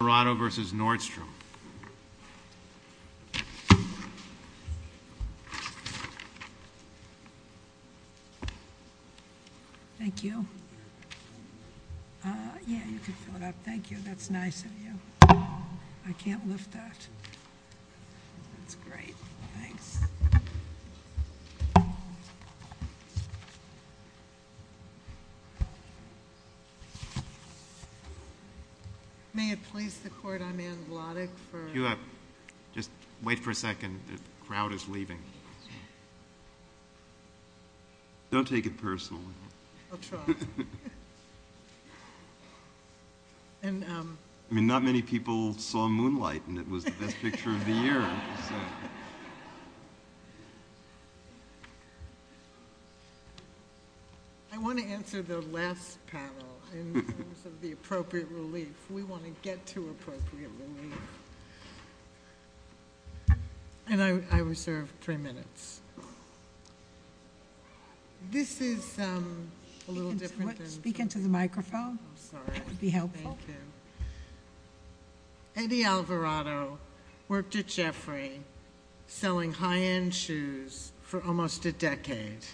Alvarado v. Nordstrom Thank you. Yeah, you can fill it up. Thank you. That's nice of you. I can't lift that. That's great. Thanks. May it please the court, I'm Ann Wlodek for... You have... just wait for a second. The crowd is leaving. Don't take it personally. I'll try. And, um... I mean, not many people saw Moonlight, and it was the best picture of the year. I want to answer the last panel in terms of the appropriate relief. We want to get to appropriate relief. And I reserve three minutes. This is a little different than... Speak into the microphone. I'm sorry. It would be helpful. Thank you. Eddie Alvarado worked at Jeffrey selling high-end shoes for almost a decade.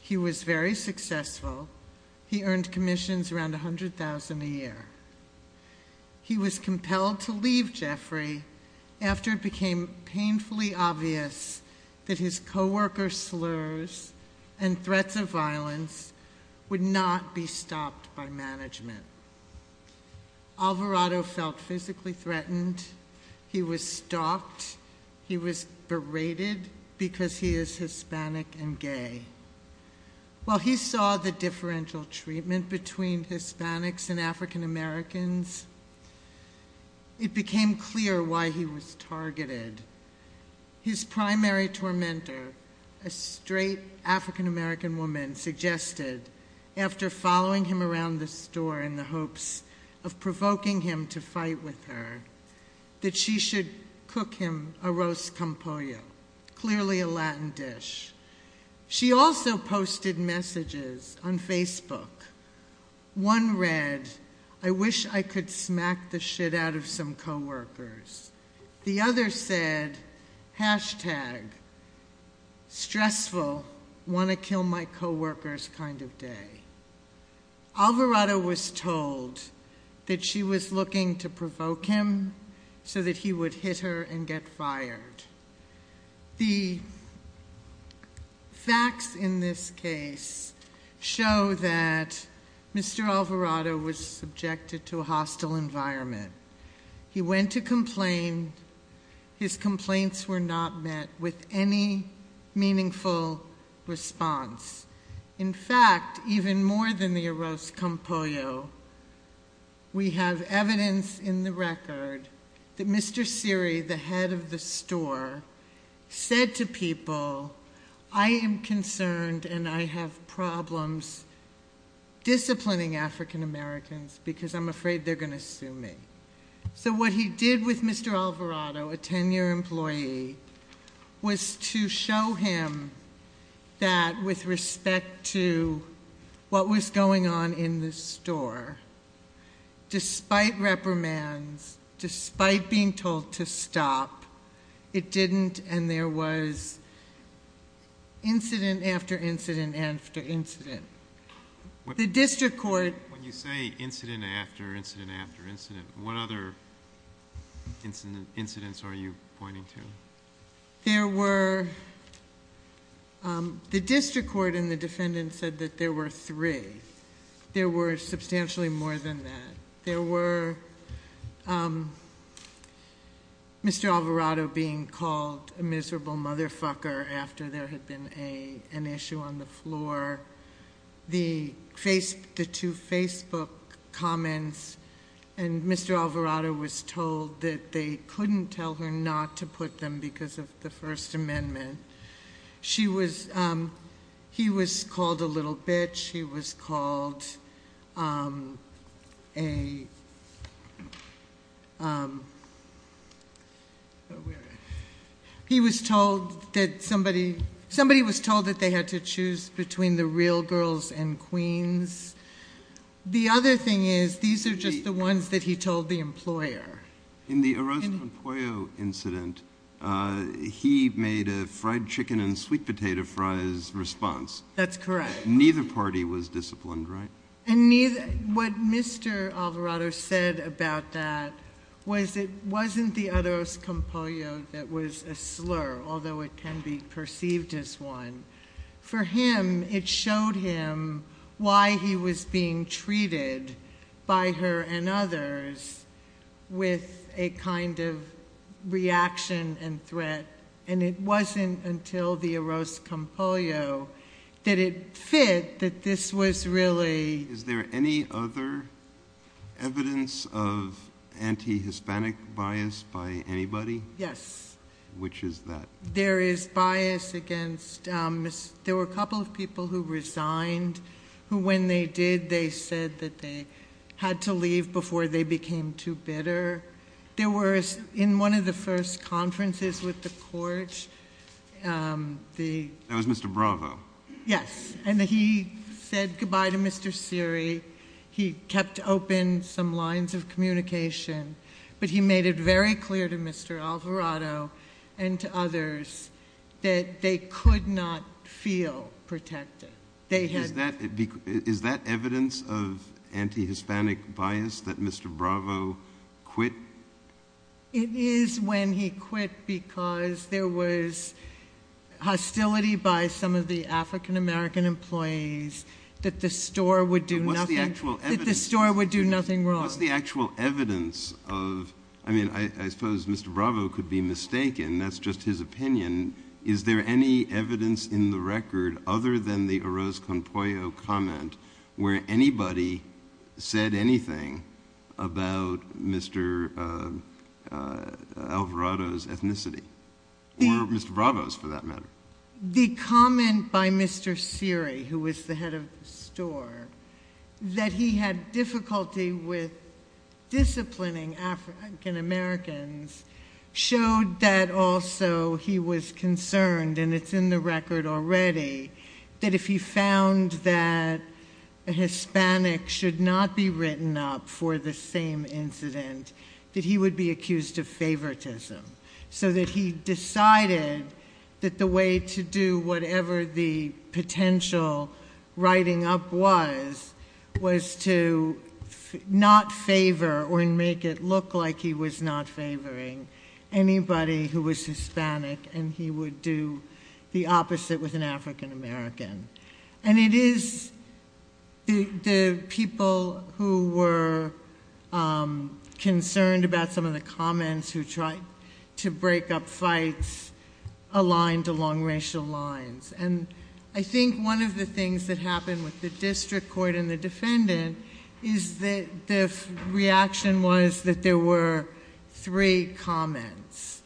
He was very successful. He earned commissions around $100,000 a year. He was compelled to leave Jeffrey after it became painfully obvious that his co-worker slurs and threats of violence would not be stopped by management. Alvarado felt physically threatened. He was stalked. He was berated because he is Hispanic and gay. While he saw the differential treatment between Hispanics and African Americans, it became clear why he was targeted. His primary tormentor, a straight African American woman, suggested, after following him around the store in the hopes of provoking him to fight with her, that she should cook him a roast campoyo, clearly a Latin dish. She also posted messages on Facebook. One read, I wish I could smack the shit out of some co-workers. The other said, Hashtag, stressful, want to kill my co-workers kind of day. Alvarado was told that she was looking to provoke him so that he would hit her and get fired. The facts in this case show that Mr. Alvarado was subjected to a hostile environment. He went to complain. His complaints were not met with any meaningful response. In fact, even more than the roast campoyo, we have evidence in the record that Mr. Siri, the head of the store, said to people, I am concerned and I have problems disciplining African Americans because I'm afraid they're going to sue me. So what he did with Mr. Alvarado, a ten-year employee, was to show him that with respect to what was going on in the store, despite reprimands, despite being told to stop, it didn't and there was incident after incident after incident. When you say incident after incident after incident, what other incidents are you pointing to? The district court and the defendant said that there were three. There were substantially more than that. There were Mr. Alvarado being called a miserable motherfucker after there had been an issue on the floor. The two Facebook comments and Mr. Alvarado was told that they couldn't tell her not to put them because of the First Amendment. He was called a little bitch. He was told that they had to choose between the real girls and queens. The other thing is these are just the ones that he told the employer. In the Arroz con Pollo incident, he made a fried chicken and sweet potato fries response. That's correct. Neither party was disciplined, right? What Mr. Alvarado said about that was it wasn't the Arroz con Pollo that was a slur, although it can be perceived as one. For him, it showed him why he was being treated by her and others with a kind of reaction and threat, and it wasn't until the Arroz con Pollo that it fit that this was really— Is there any other evidence of anti-Hispanic bias by anybody? Yes. Which is that? There is bias against—there were a couple of people who resigned who when they did, they said that they had to leave before they became too bitter. In one of the first conferences with the court, the— That was Mr. Bravo. Yes, and he said goodbye to Mr. Siri. He kept open some lines of communication, but he made it very clear to Mr. Alvarado and to others that they could not feel protected. Is that evidence of anti-Hispanic bias that Mr. Bravo quit? It is when he quit because there was hostility by some of the African-American employees that the store would do nothing wrong. What's the actual evidence of—I mean, I suppose Mr. Bravo could be mistaken. That's just his opinion. Is there any evidence in the record other than the Arroz con Pollo comment where anybody said anything about Mr. Alvarado's ethnicity? Or Mr. Bravo's, for that matter. The comment by Mr. Siri, who was the head of the store, that he had difficulty with disciplining African-Americans showed that also he was concerned, and it's in the record already, that if he found that a Hispanic should not be written up for the same incident, that he would be accused of favoritism. So that he decided that the way to do whatever the potential writing up was was to not favor or make it look like he was not favoring anybody who was Hispanic and he would do the opposite with an African-American. And it is the people who were concerned about some of the comments who tried to break up fights aligned along racial lines. And I think one of the things that happened with the district court and the defendant is that the reaction was that there were three comments.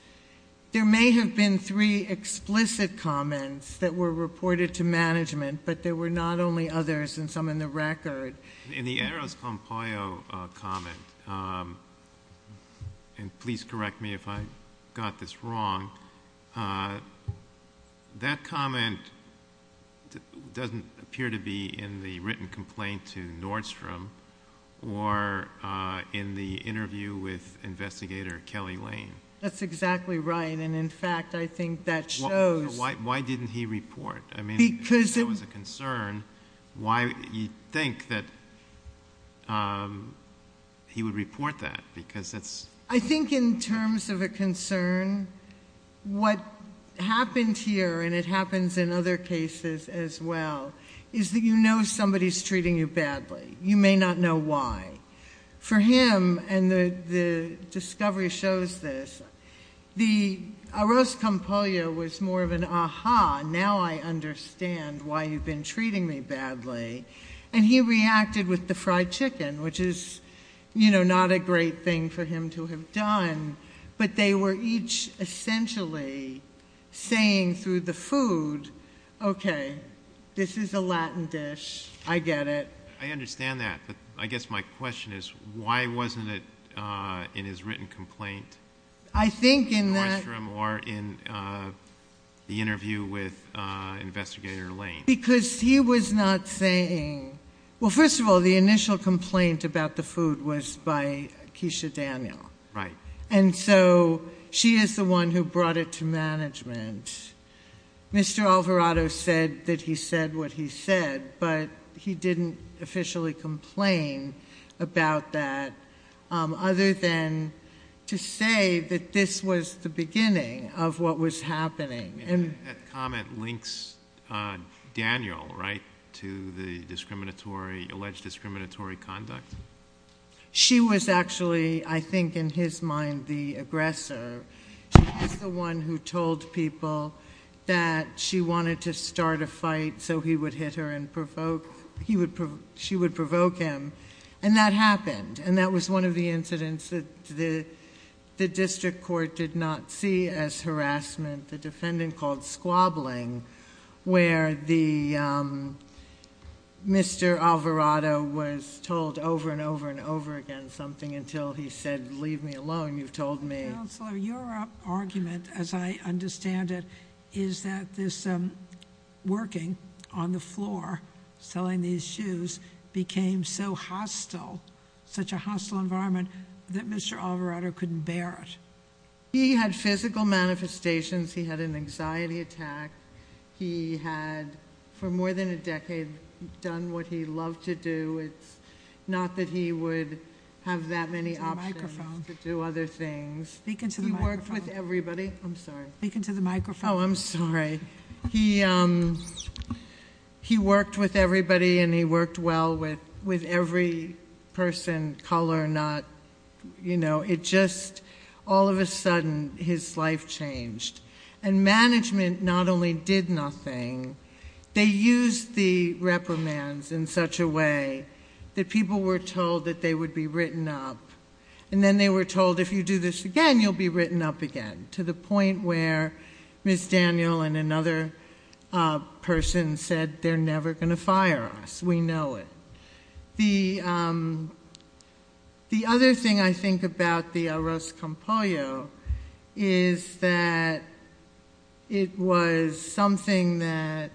There may have been three explicit comments that were reported to management, but there were not only others and some in the record. In the Arroz con Pollo comment, and please correct me if I got this wrong, that comment doesn't appear to be in the written complaint to Nordstrom or in the interview with investigator Kelly Lane. That's exactly right, and, in fact, I think that shows. Why didn't he report? I mean, if there was a concern, why do you think that he would report that? I think in terms of a concern, what happened here, and it happens in other cases as well, is that you know somebody is treating you badly. You may not know why. For him, and the discovery shows this, the Arroz con Pollo was more of an ah-ha, now I understand why you've been treating me badly. And he reacted with the fried chicken, which is not a great thing for him to have done, but they were each essentially saying through the food, okay, this is a Latin dish, I get it. I understand that, but I guess my question is, why wasn't it in his written complaint to Nordstrom or in the interview with investigator Lane? Because he was not saying, well, first of all, the initial complaint about the food was by Keisha Daniel, and so she is the one who brought it to management. Mr. Alvarado said that he said what he said, but he didn't officially complain about that, other than to say that this was the beginning of what was happening. That comment links Daniel, right, to the alleged discriminatory conduct? She was actually, I think in his mind, the aggressor. She was the one who told people that she wanted to start a fight so he would hit her and provoke... she would provoke him, and that happened, and that was one of the incidents that the district court did not see as harassment. The defendant called squabbling, where Mr. Alvarado was told over and over and over again something until he said, leave me alone, you've told me... Counselor, your argument, as I understand it, is that this working on the floor, selling these shoes, became so hostile, such a hostile environment, that Mr. Alvarado couldn't bear it. He had physical manifestations. He had an anxiety attack. He had, for more than a decade, done what he loved to do. It's not that he would have that many options to do other things. Speak into the microphone. He worked with everybody. I'm sorry. Speak into the microphone. Oh, I'm sorry. He worked with everybody, and he worked well with every person, color or not. It just, all of a sudden, his life changed. And management not only did nothing, they used the reprimands in such a way that people were told that they would be written up, and then they were told, if you do this again, you'll be written up again, to the point where Ms. Daniel and another person said, they're never going to fire us. We know it. The other thing I think about the Arroz con Pollo is that it was something that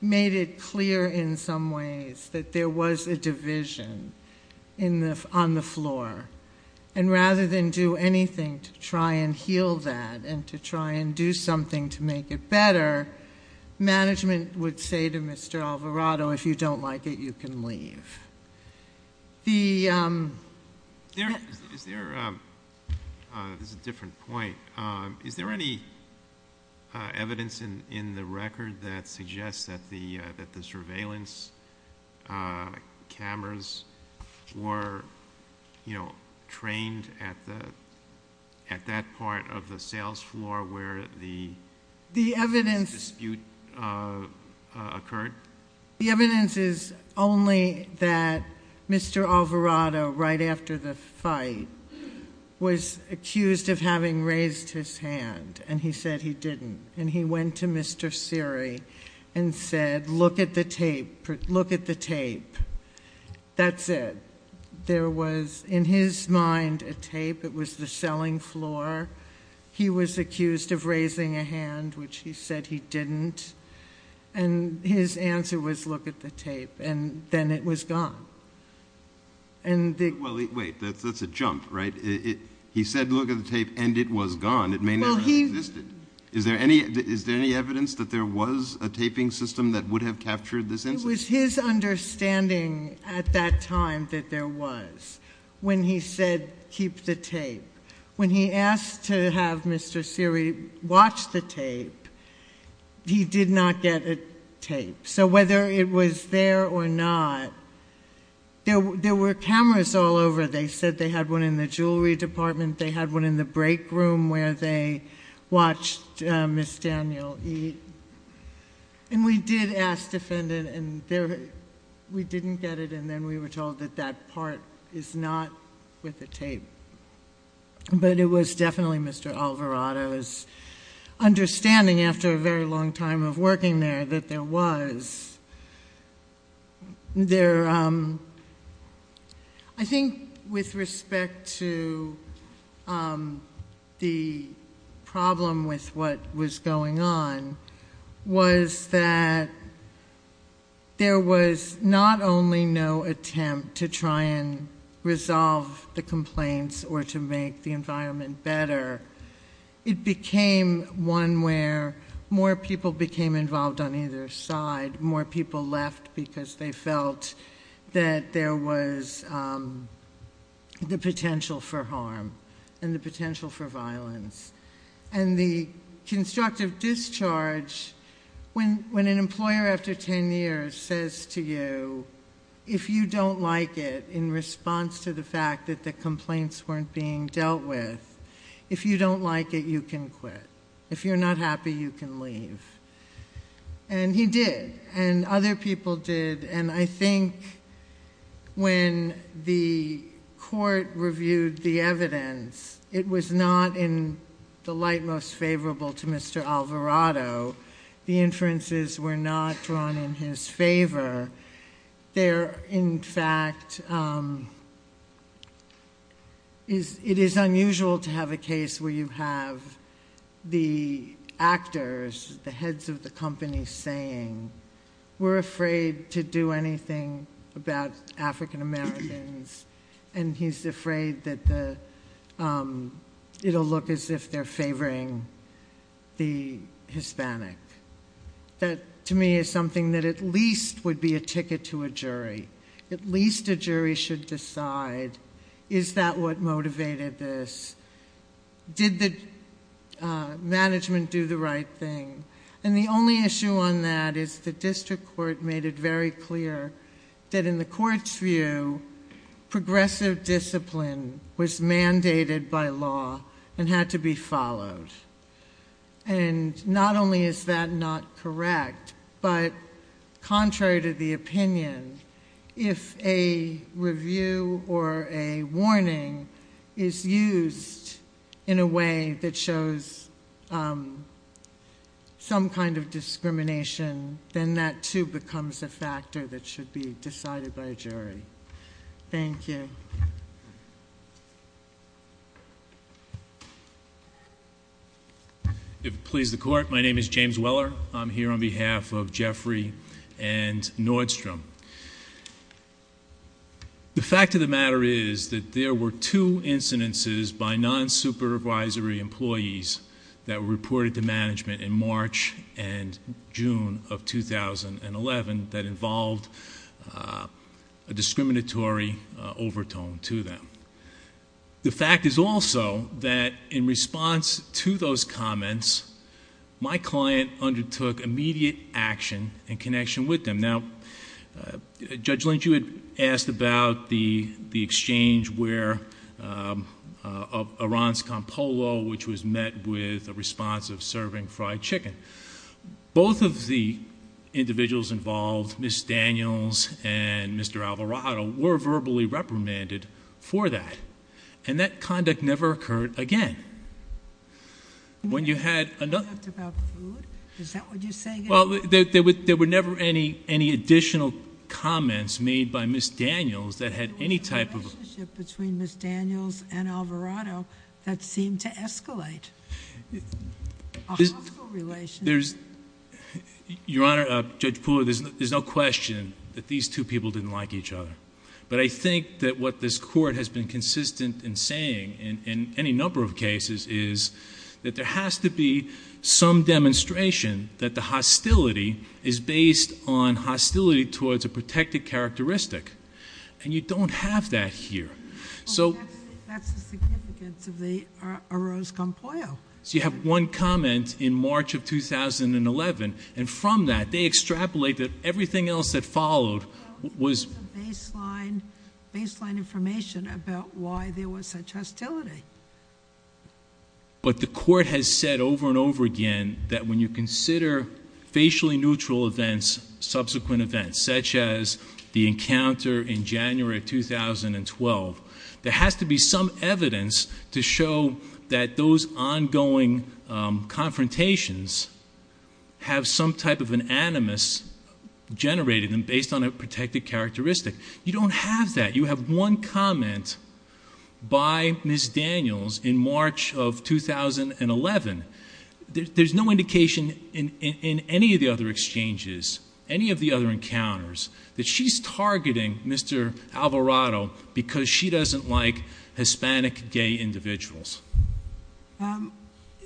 made it clear, in some ways, that there was a division on the floor. And rather than do anything to try and heal that and to try and do something to make it better, management would say to Mr. Alvarado, if you don't like it, you can leave. There's a different point. Is there any evidence in the record that suggests that the surveillance cameras were trained at that part of the sales floor where the dispute occurred? The evidence is only that Mr. Alvarado, right after the fight, was accused of having raised his hand, and he said he didn't. And he went to Mr. Seary and said, look at the tape. Look at the tape. That's it. There was, in his mind, a tape. It was the selling floor. He was accused of raising a hand, which he said he didn't. And his answer was, look at the tape. And then it was gone. Well, wait. That's a jump, right? He said, look at the tape, and it was gone. It may never have existed. Is there any evidence that there was a taping system that would have captured this incident? It was his understanding at that time that there was, when he said, keep the tape. When he asked to have Mr. Seary watch the tape, he did not get a tape. So whether it was there or not, there were cameras all over. They said they had one in the jewelry department. They had one in the break room where they watched Ms. Daniel eat. And we did ask the defendant, and we didn't get it. And then we were told that that part is not with the tape. But it was definitely Mr. Alvarado's understanding, after a very long time of working there, that there was. I think with respect to the problem with what was going on was that there was not only no attempt to try and resolve the complaints or to make the environment better, it became one where more people became involved on either side. More people left because they felt that there was the potential for harm and the potential for violence. And the constructive discharge, when an employer after ten years says to you, if you don't like it in response to the fact that the complaints weren't being dealt with, if you don't like it, you can quit. If you're not happy, you can leave. And he did. And other people did. And I think when the court reviewed the evidence, it was not in the light most favorable to Mr. Alvarado. The inferences were not drawn in his favor. There, in fact, it is unusual to have a case where you have the actors, the heads of the company, saying, we're afraid to do anything about African Americans, and he's afraid that it'll look as if they're favoring the Hispanic. That, to me, is something that at least would be a ticket to a jury. At least a jury should decide, is that what motivated this? Did the management do the right thing? And the only issue on that is the district court made it very clear that in the court's view, progressive discipline was mandated by law and had to be followed. And not only is that not correct, but contrary to the opinion, if a review or a warning is used in a way that shows some kind of discrimination, then that, too, becomes a factor that should be decided by a jury. Thank you. If it pleases the court, my name is James Weller. I'm here on behalf of Jeffrey and Nordstrom. The fact of the matter is that there were two incidences by non-supervisory employees that were reported to management in March and June of 2011 that involved a discriminatory overtone to them. The fact is also that in response to those comments, my client undertook immediate action in connection with them. Now, Judge Lynch, you had asked about the exchange where Arantz-Campolo, which was met with a response of serving fried chicken. Both of the individuals involved, Ms. Daniels and Mr. Alvarado, were verbally reprimanded for that, and that conduct never occurred again. When you had another... You talked about food? Is that what you're saying? Well, there were never any additional comments made by Ms. Daniels that had any type of... There was a relationship between Ms. Daniels and Alvarado that seemed to escalate. A hostile relationship? Your Honor, Judge Pooler, there's no question that these two people didn't like each other. But I think that what this Court has been consistent in saying in any number of cases is that there has to be some demonstration that the hostility is based on hostility towards a protected characteristic. And you don't have that here. That's the significance of the Arantz-Campolo. So you have one comment in March of 2011, and from that they extrapolated everything else that followed was... Well, this is a baseline information about why there was such hostility. But the Court has said over and over again that when you consider facially neutral events, subsequent events, such as the encounter in January 2012, there has to be some evidence to show that those ongoing confrontations have some type of an animus generated and based on a protected characteristic. You don't have that. You have one comment by Ms. Daniels in March of 2011. There's no indication in any of the other exchanges, any of the other encounters, that she's targeting Mr. Alvarado because she doesn't like Hispanic gay individuals.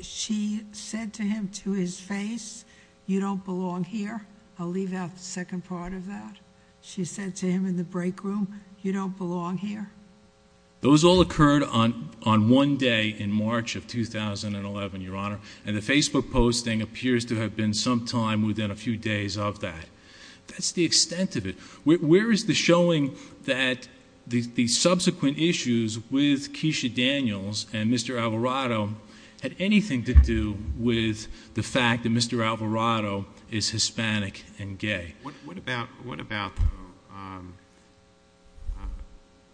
She said to him to his face, you don't belong here. I'll leave out the second part of that. She said to him in the break room, you don't belong here. Those all occurred on one day in March of 2011, Your Honor, and the Facebook posting appears to have been sometime within a few days of that. That's the extent of it. Where is the showing that the subsequent issues with Keisha Daniels and Mr. Alvarado had anything to do with the fact that Mr. Alvarado is Hispanic and gay? What about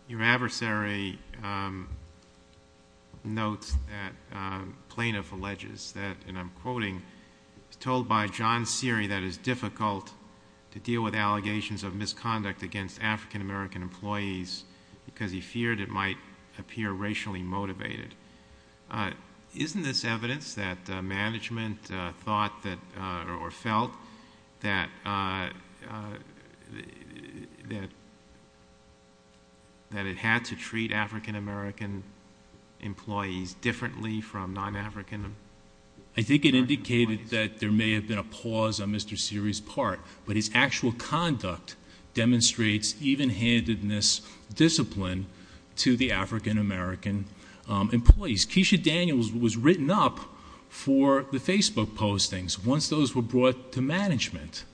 your adversary notes that plaintiff alleges that, and I'm quoting, told by John Seery that it's difficult to deal with allegations of misconduct against African-American employees because he feared it might appear racially motivated. Isn't this evidence that management thought or felt that it had to treat African-American employees differently from non-African employees? I think it indicated that there may have been a pause on Mr. Seery's part, but his actual conduct demonstrates even-handedness discipline to the African-American employees. Keisha Daniels was written up for the Facebook postings once those were brought to management.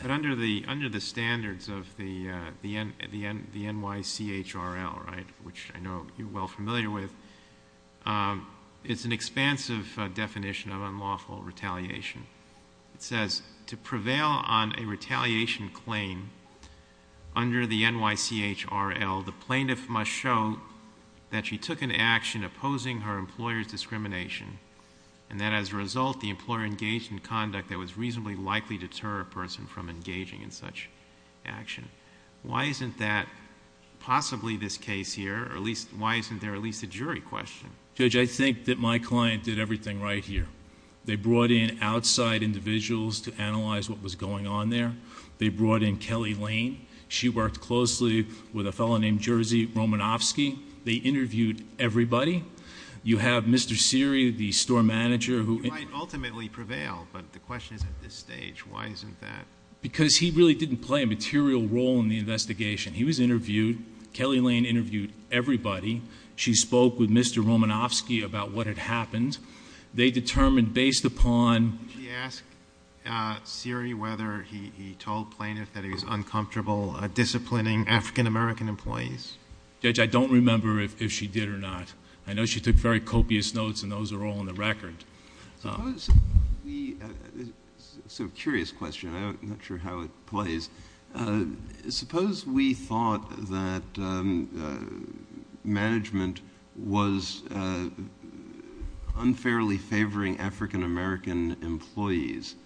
But under the standards of the NYCHRL, which I know you're well familiar with, it's an expansive definition of unlawful retaliation. It says, to prevail on a retaliation claim under the NYCHRL, the plaintiff must show that she took an action opposing her employer's discrimination and that as a result, the employer engaged in conduct that was reasonably likely to deter a person from engaging in such action. Why isn't that possibly this case here, or why isn't there at least a jury question? Judge, I think that my client did everything right here. They brought in outside individuals to analyze what was going on there. They brought in Kelly Lane. She worked closely with a fellow named Jerzy Romanofsky. They interviewed everybody. You have Mr. Seery, the store manager. He might ultimately prevail, but the question is at this stage, why isn't that? Because he really didn't play a material role in the investigation. He was interviewed. She spoke with Mr. Romanofsky about what had happened. They determined based upon. Did she ask Seery whether he told plaintiff that he was uncomfortable disciplining African-American employees? Judge, I don't remember if she did or not. I know she took very copious notes, and those are all in the record. Curious question. I'm not sure how it plays. Suppose we thought that management was unfairly favoring African-American employees.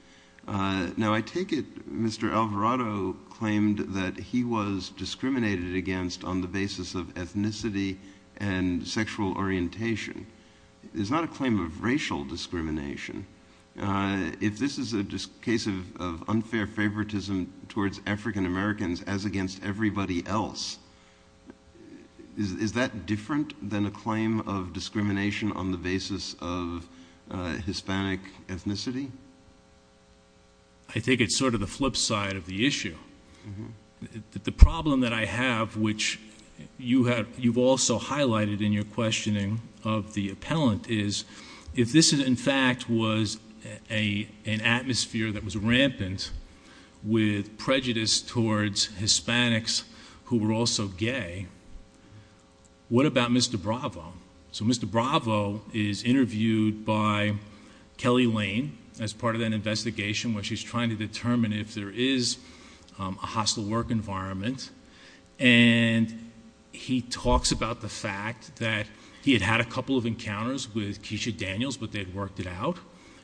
Now, I take it Mr. Alvarado claimed that he was discriminated against on the basis of ethnicity and sexual orientation. It's not a claim of racial discrimination. If this is a case of unfair favoritism towards African-Americans as against everybody else, is that different than a claim of discrimination on the basis of Hispanic ethnicity? I think it's sort of the flip side of the issue. The problem that I have, which you've also highlighted in your questioning of the appellant, is if this in fact was an atmosphere that was rampant with prejudice towards Hispanics who were also gay, what about Mr. Bravo? So Mr. Bravo is interviewed by Kelly Lane as part of that investigation where she's trying to determine if there is a hostile work environment, and he talks about the fact that he had had a couple of encounters with Keisha Daniels, but they'd worked it out.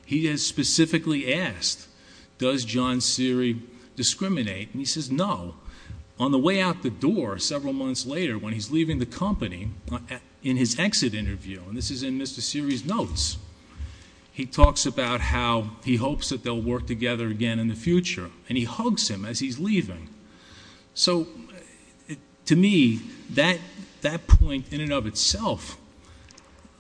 He is specifically asked, does John Seery discriminate? And he says no. On the way out the door several months later when he's leaving the company in his exit interview, and this is in Mr. Seery's notes, he talks about how he hopes that they'll work together again in the future, and he hugs him as he's leaving. So to me, that point in and of itself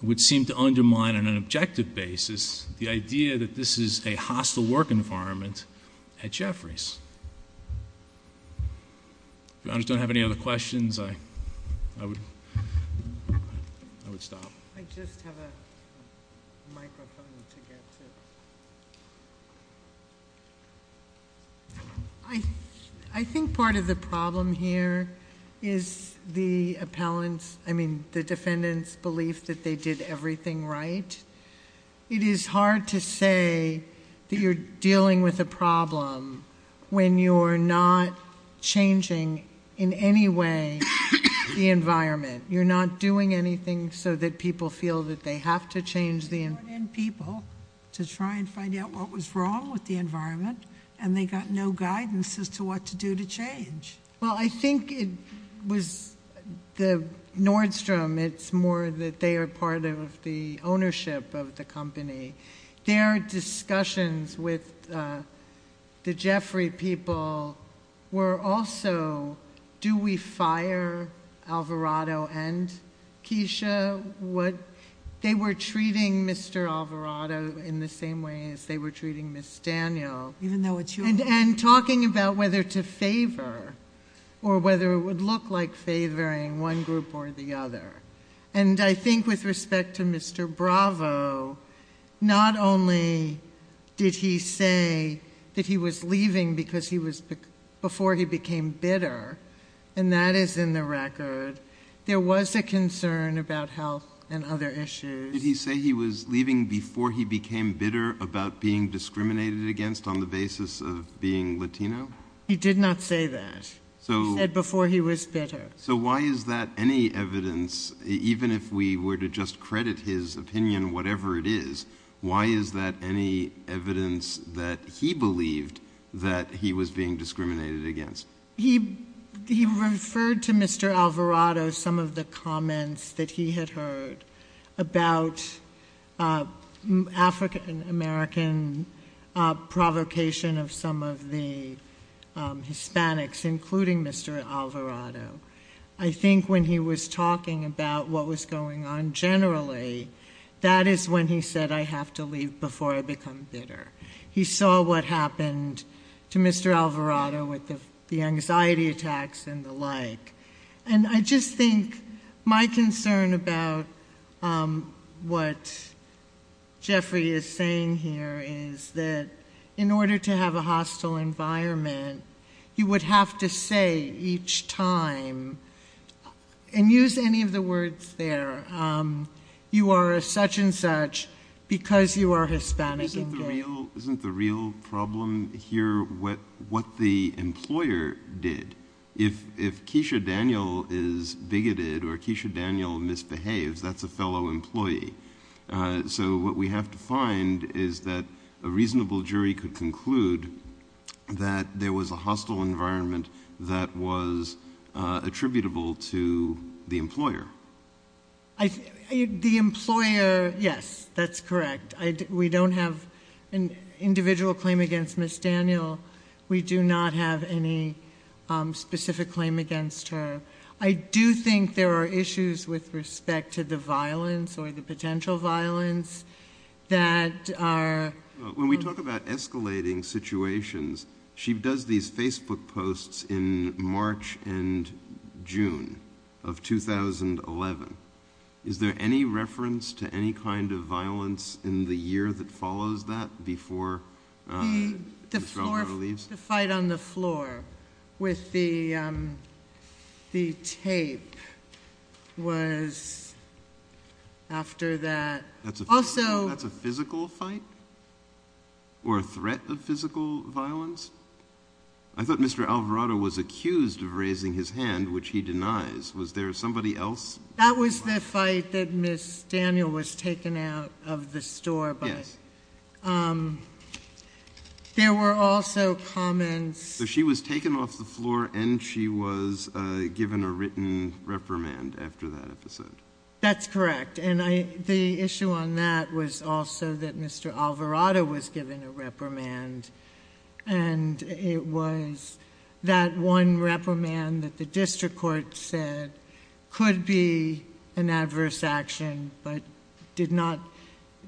would seem to undermine on an objective basis the idea that this is a hostile work environment at Jeffries. If you don't have any other questions, I would stop. I just have a microphone to get to. I think part of the problem here is the defendant's belief that they did everything right. It is hard to say that you're dealing with a problem when you're not changing in any way the environment. You're not doing anything so that people feel that they have to change the environment. They brought in people to try and find out what was wrong with the environment, and they got no guidance as to what to do to change. Well, I think it was Nordstrom. It's more that they are part of the ownership of the company. Their discussions with the Jeffrey people were also, do we fire Alvarado and Keisha? They were treating Mr. Alvarado in the same way as they were treating Ms. Daniel. Even though it's you. And talking about whether to favor or whether it would look like favoring one group or the other. And I think with respect to Mr. Bravo, not only did he say that he was leaving before he became bitter, and that is in the record, there was a concern about health and other issues. Did he say he was leaving before he became bitter about being discriminated against on the basis of being Latino? He did not say that. He said before he was bitter. So why is that any evidence, even if we were to just credit his opinion, whatever it is, why is that any evidence that he believed that he was being discriminated against? He referred to Mr. Alvarado, some of the comments that he had heard about African American provocation of some of the Hispanics, including Mr. Alvarado. I think when he was talking about what was going on generally, that is when he said I have to leave before I become bitter. He saw what happened to Mr. Alvarado with the anxiety attacks and the like. And I just think my concern about what Jeffrey is saying here is that in order to have a hostile environment, you would have to say each time, and use any of the words there, you are such and such because you are Hispanic. Isn't the real problem here what the employer did? If Keisha Daniel is bigoted or Keisha Daniel misbehaves, that's a fellow employee. So what we have to find is that a reasonable jury could conclude that there was a hostile environment that was attributable to the employer. The employer, yes, that's correct. We don't have an individual claim against Ms. Daniel. We do not have any specific claim against her. I do think there are issues with respect to the violence or the potential violence that are When we talk about escalating situations, she does these Facebook posts in March and June of 2011. Is there any reference to any kind of violence in the year that follows that before Ms. Alvarado leaves? The fight on the floor with the tape was after that. That's a physical fight or a threat of physical violence? I thought Mr. Alvarado was accused of raising his hand, which he denies. Was there somebody else? That was the fight that Ms. Daniel was taken out of the store by. Yes. There were also comments She was taken off the floor and she was given a written reprimand after that episode. That's correct. And the issue on that was also that Mr. Alvarado was given a reprimand. And it was that one reprimand that the district court said could be an adverse action, but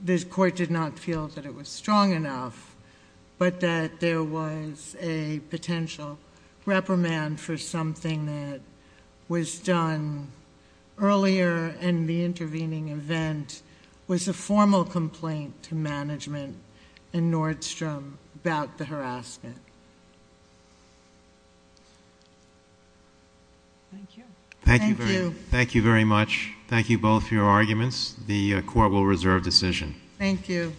this court did not feel that it was strong enough, but that there was a potential reprimand for something that was done earlier and the intervening event was a formal complaint to management and Nordstrom about the harassment. Thank you. Thank you. Thank you very much. Thank you both for your arguments. The court will reserve decision. Thank you.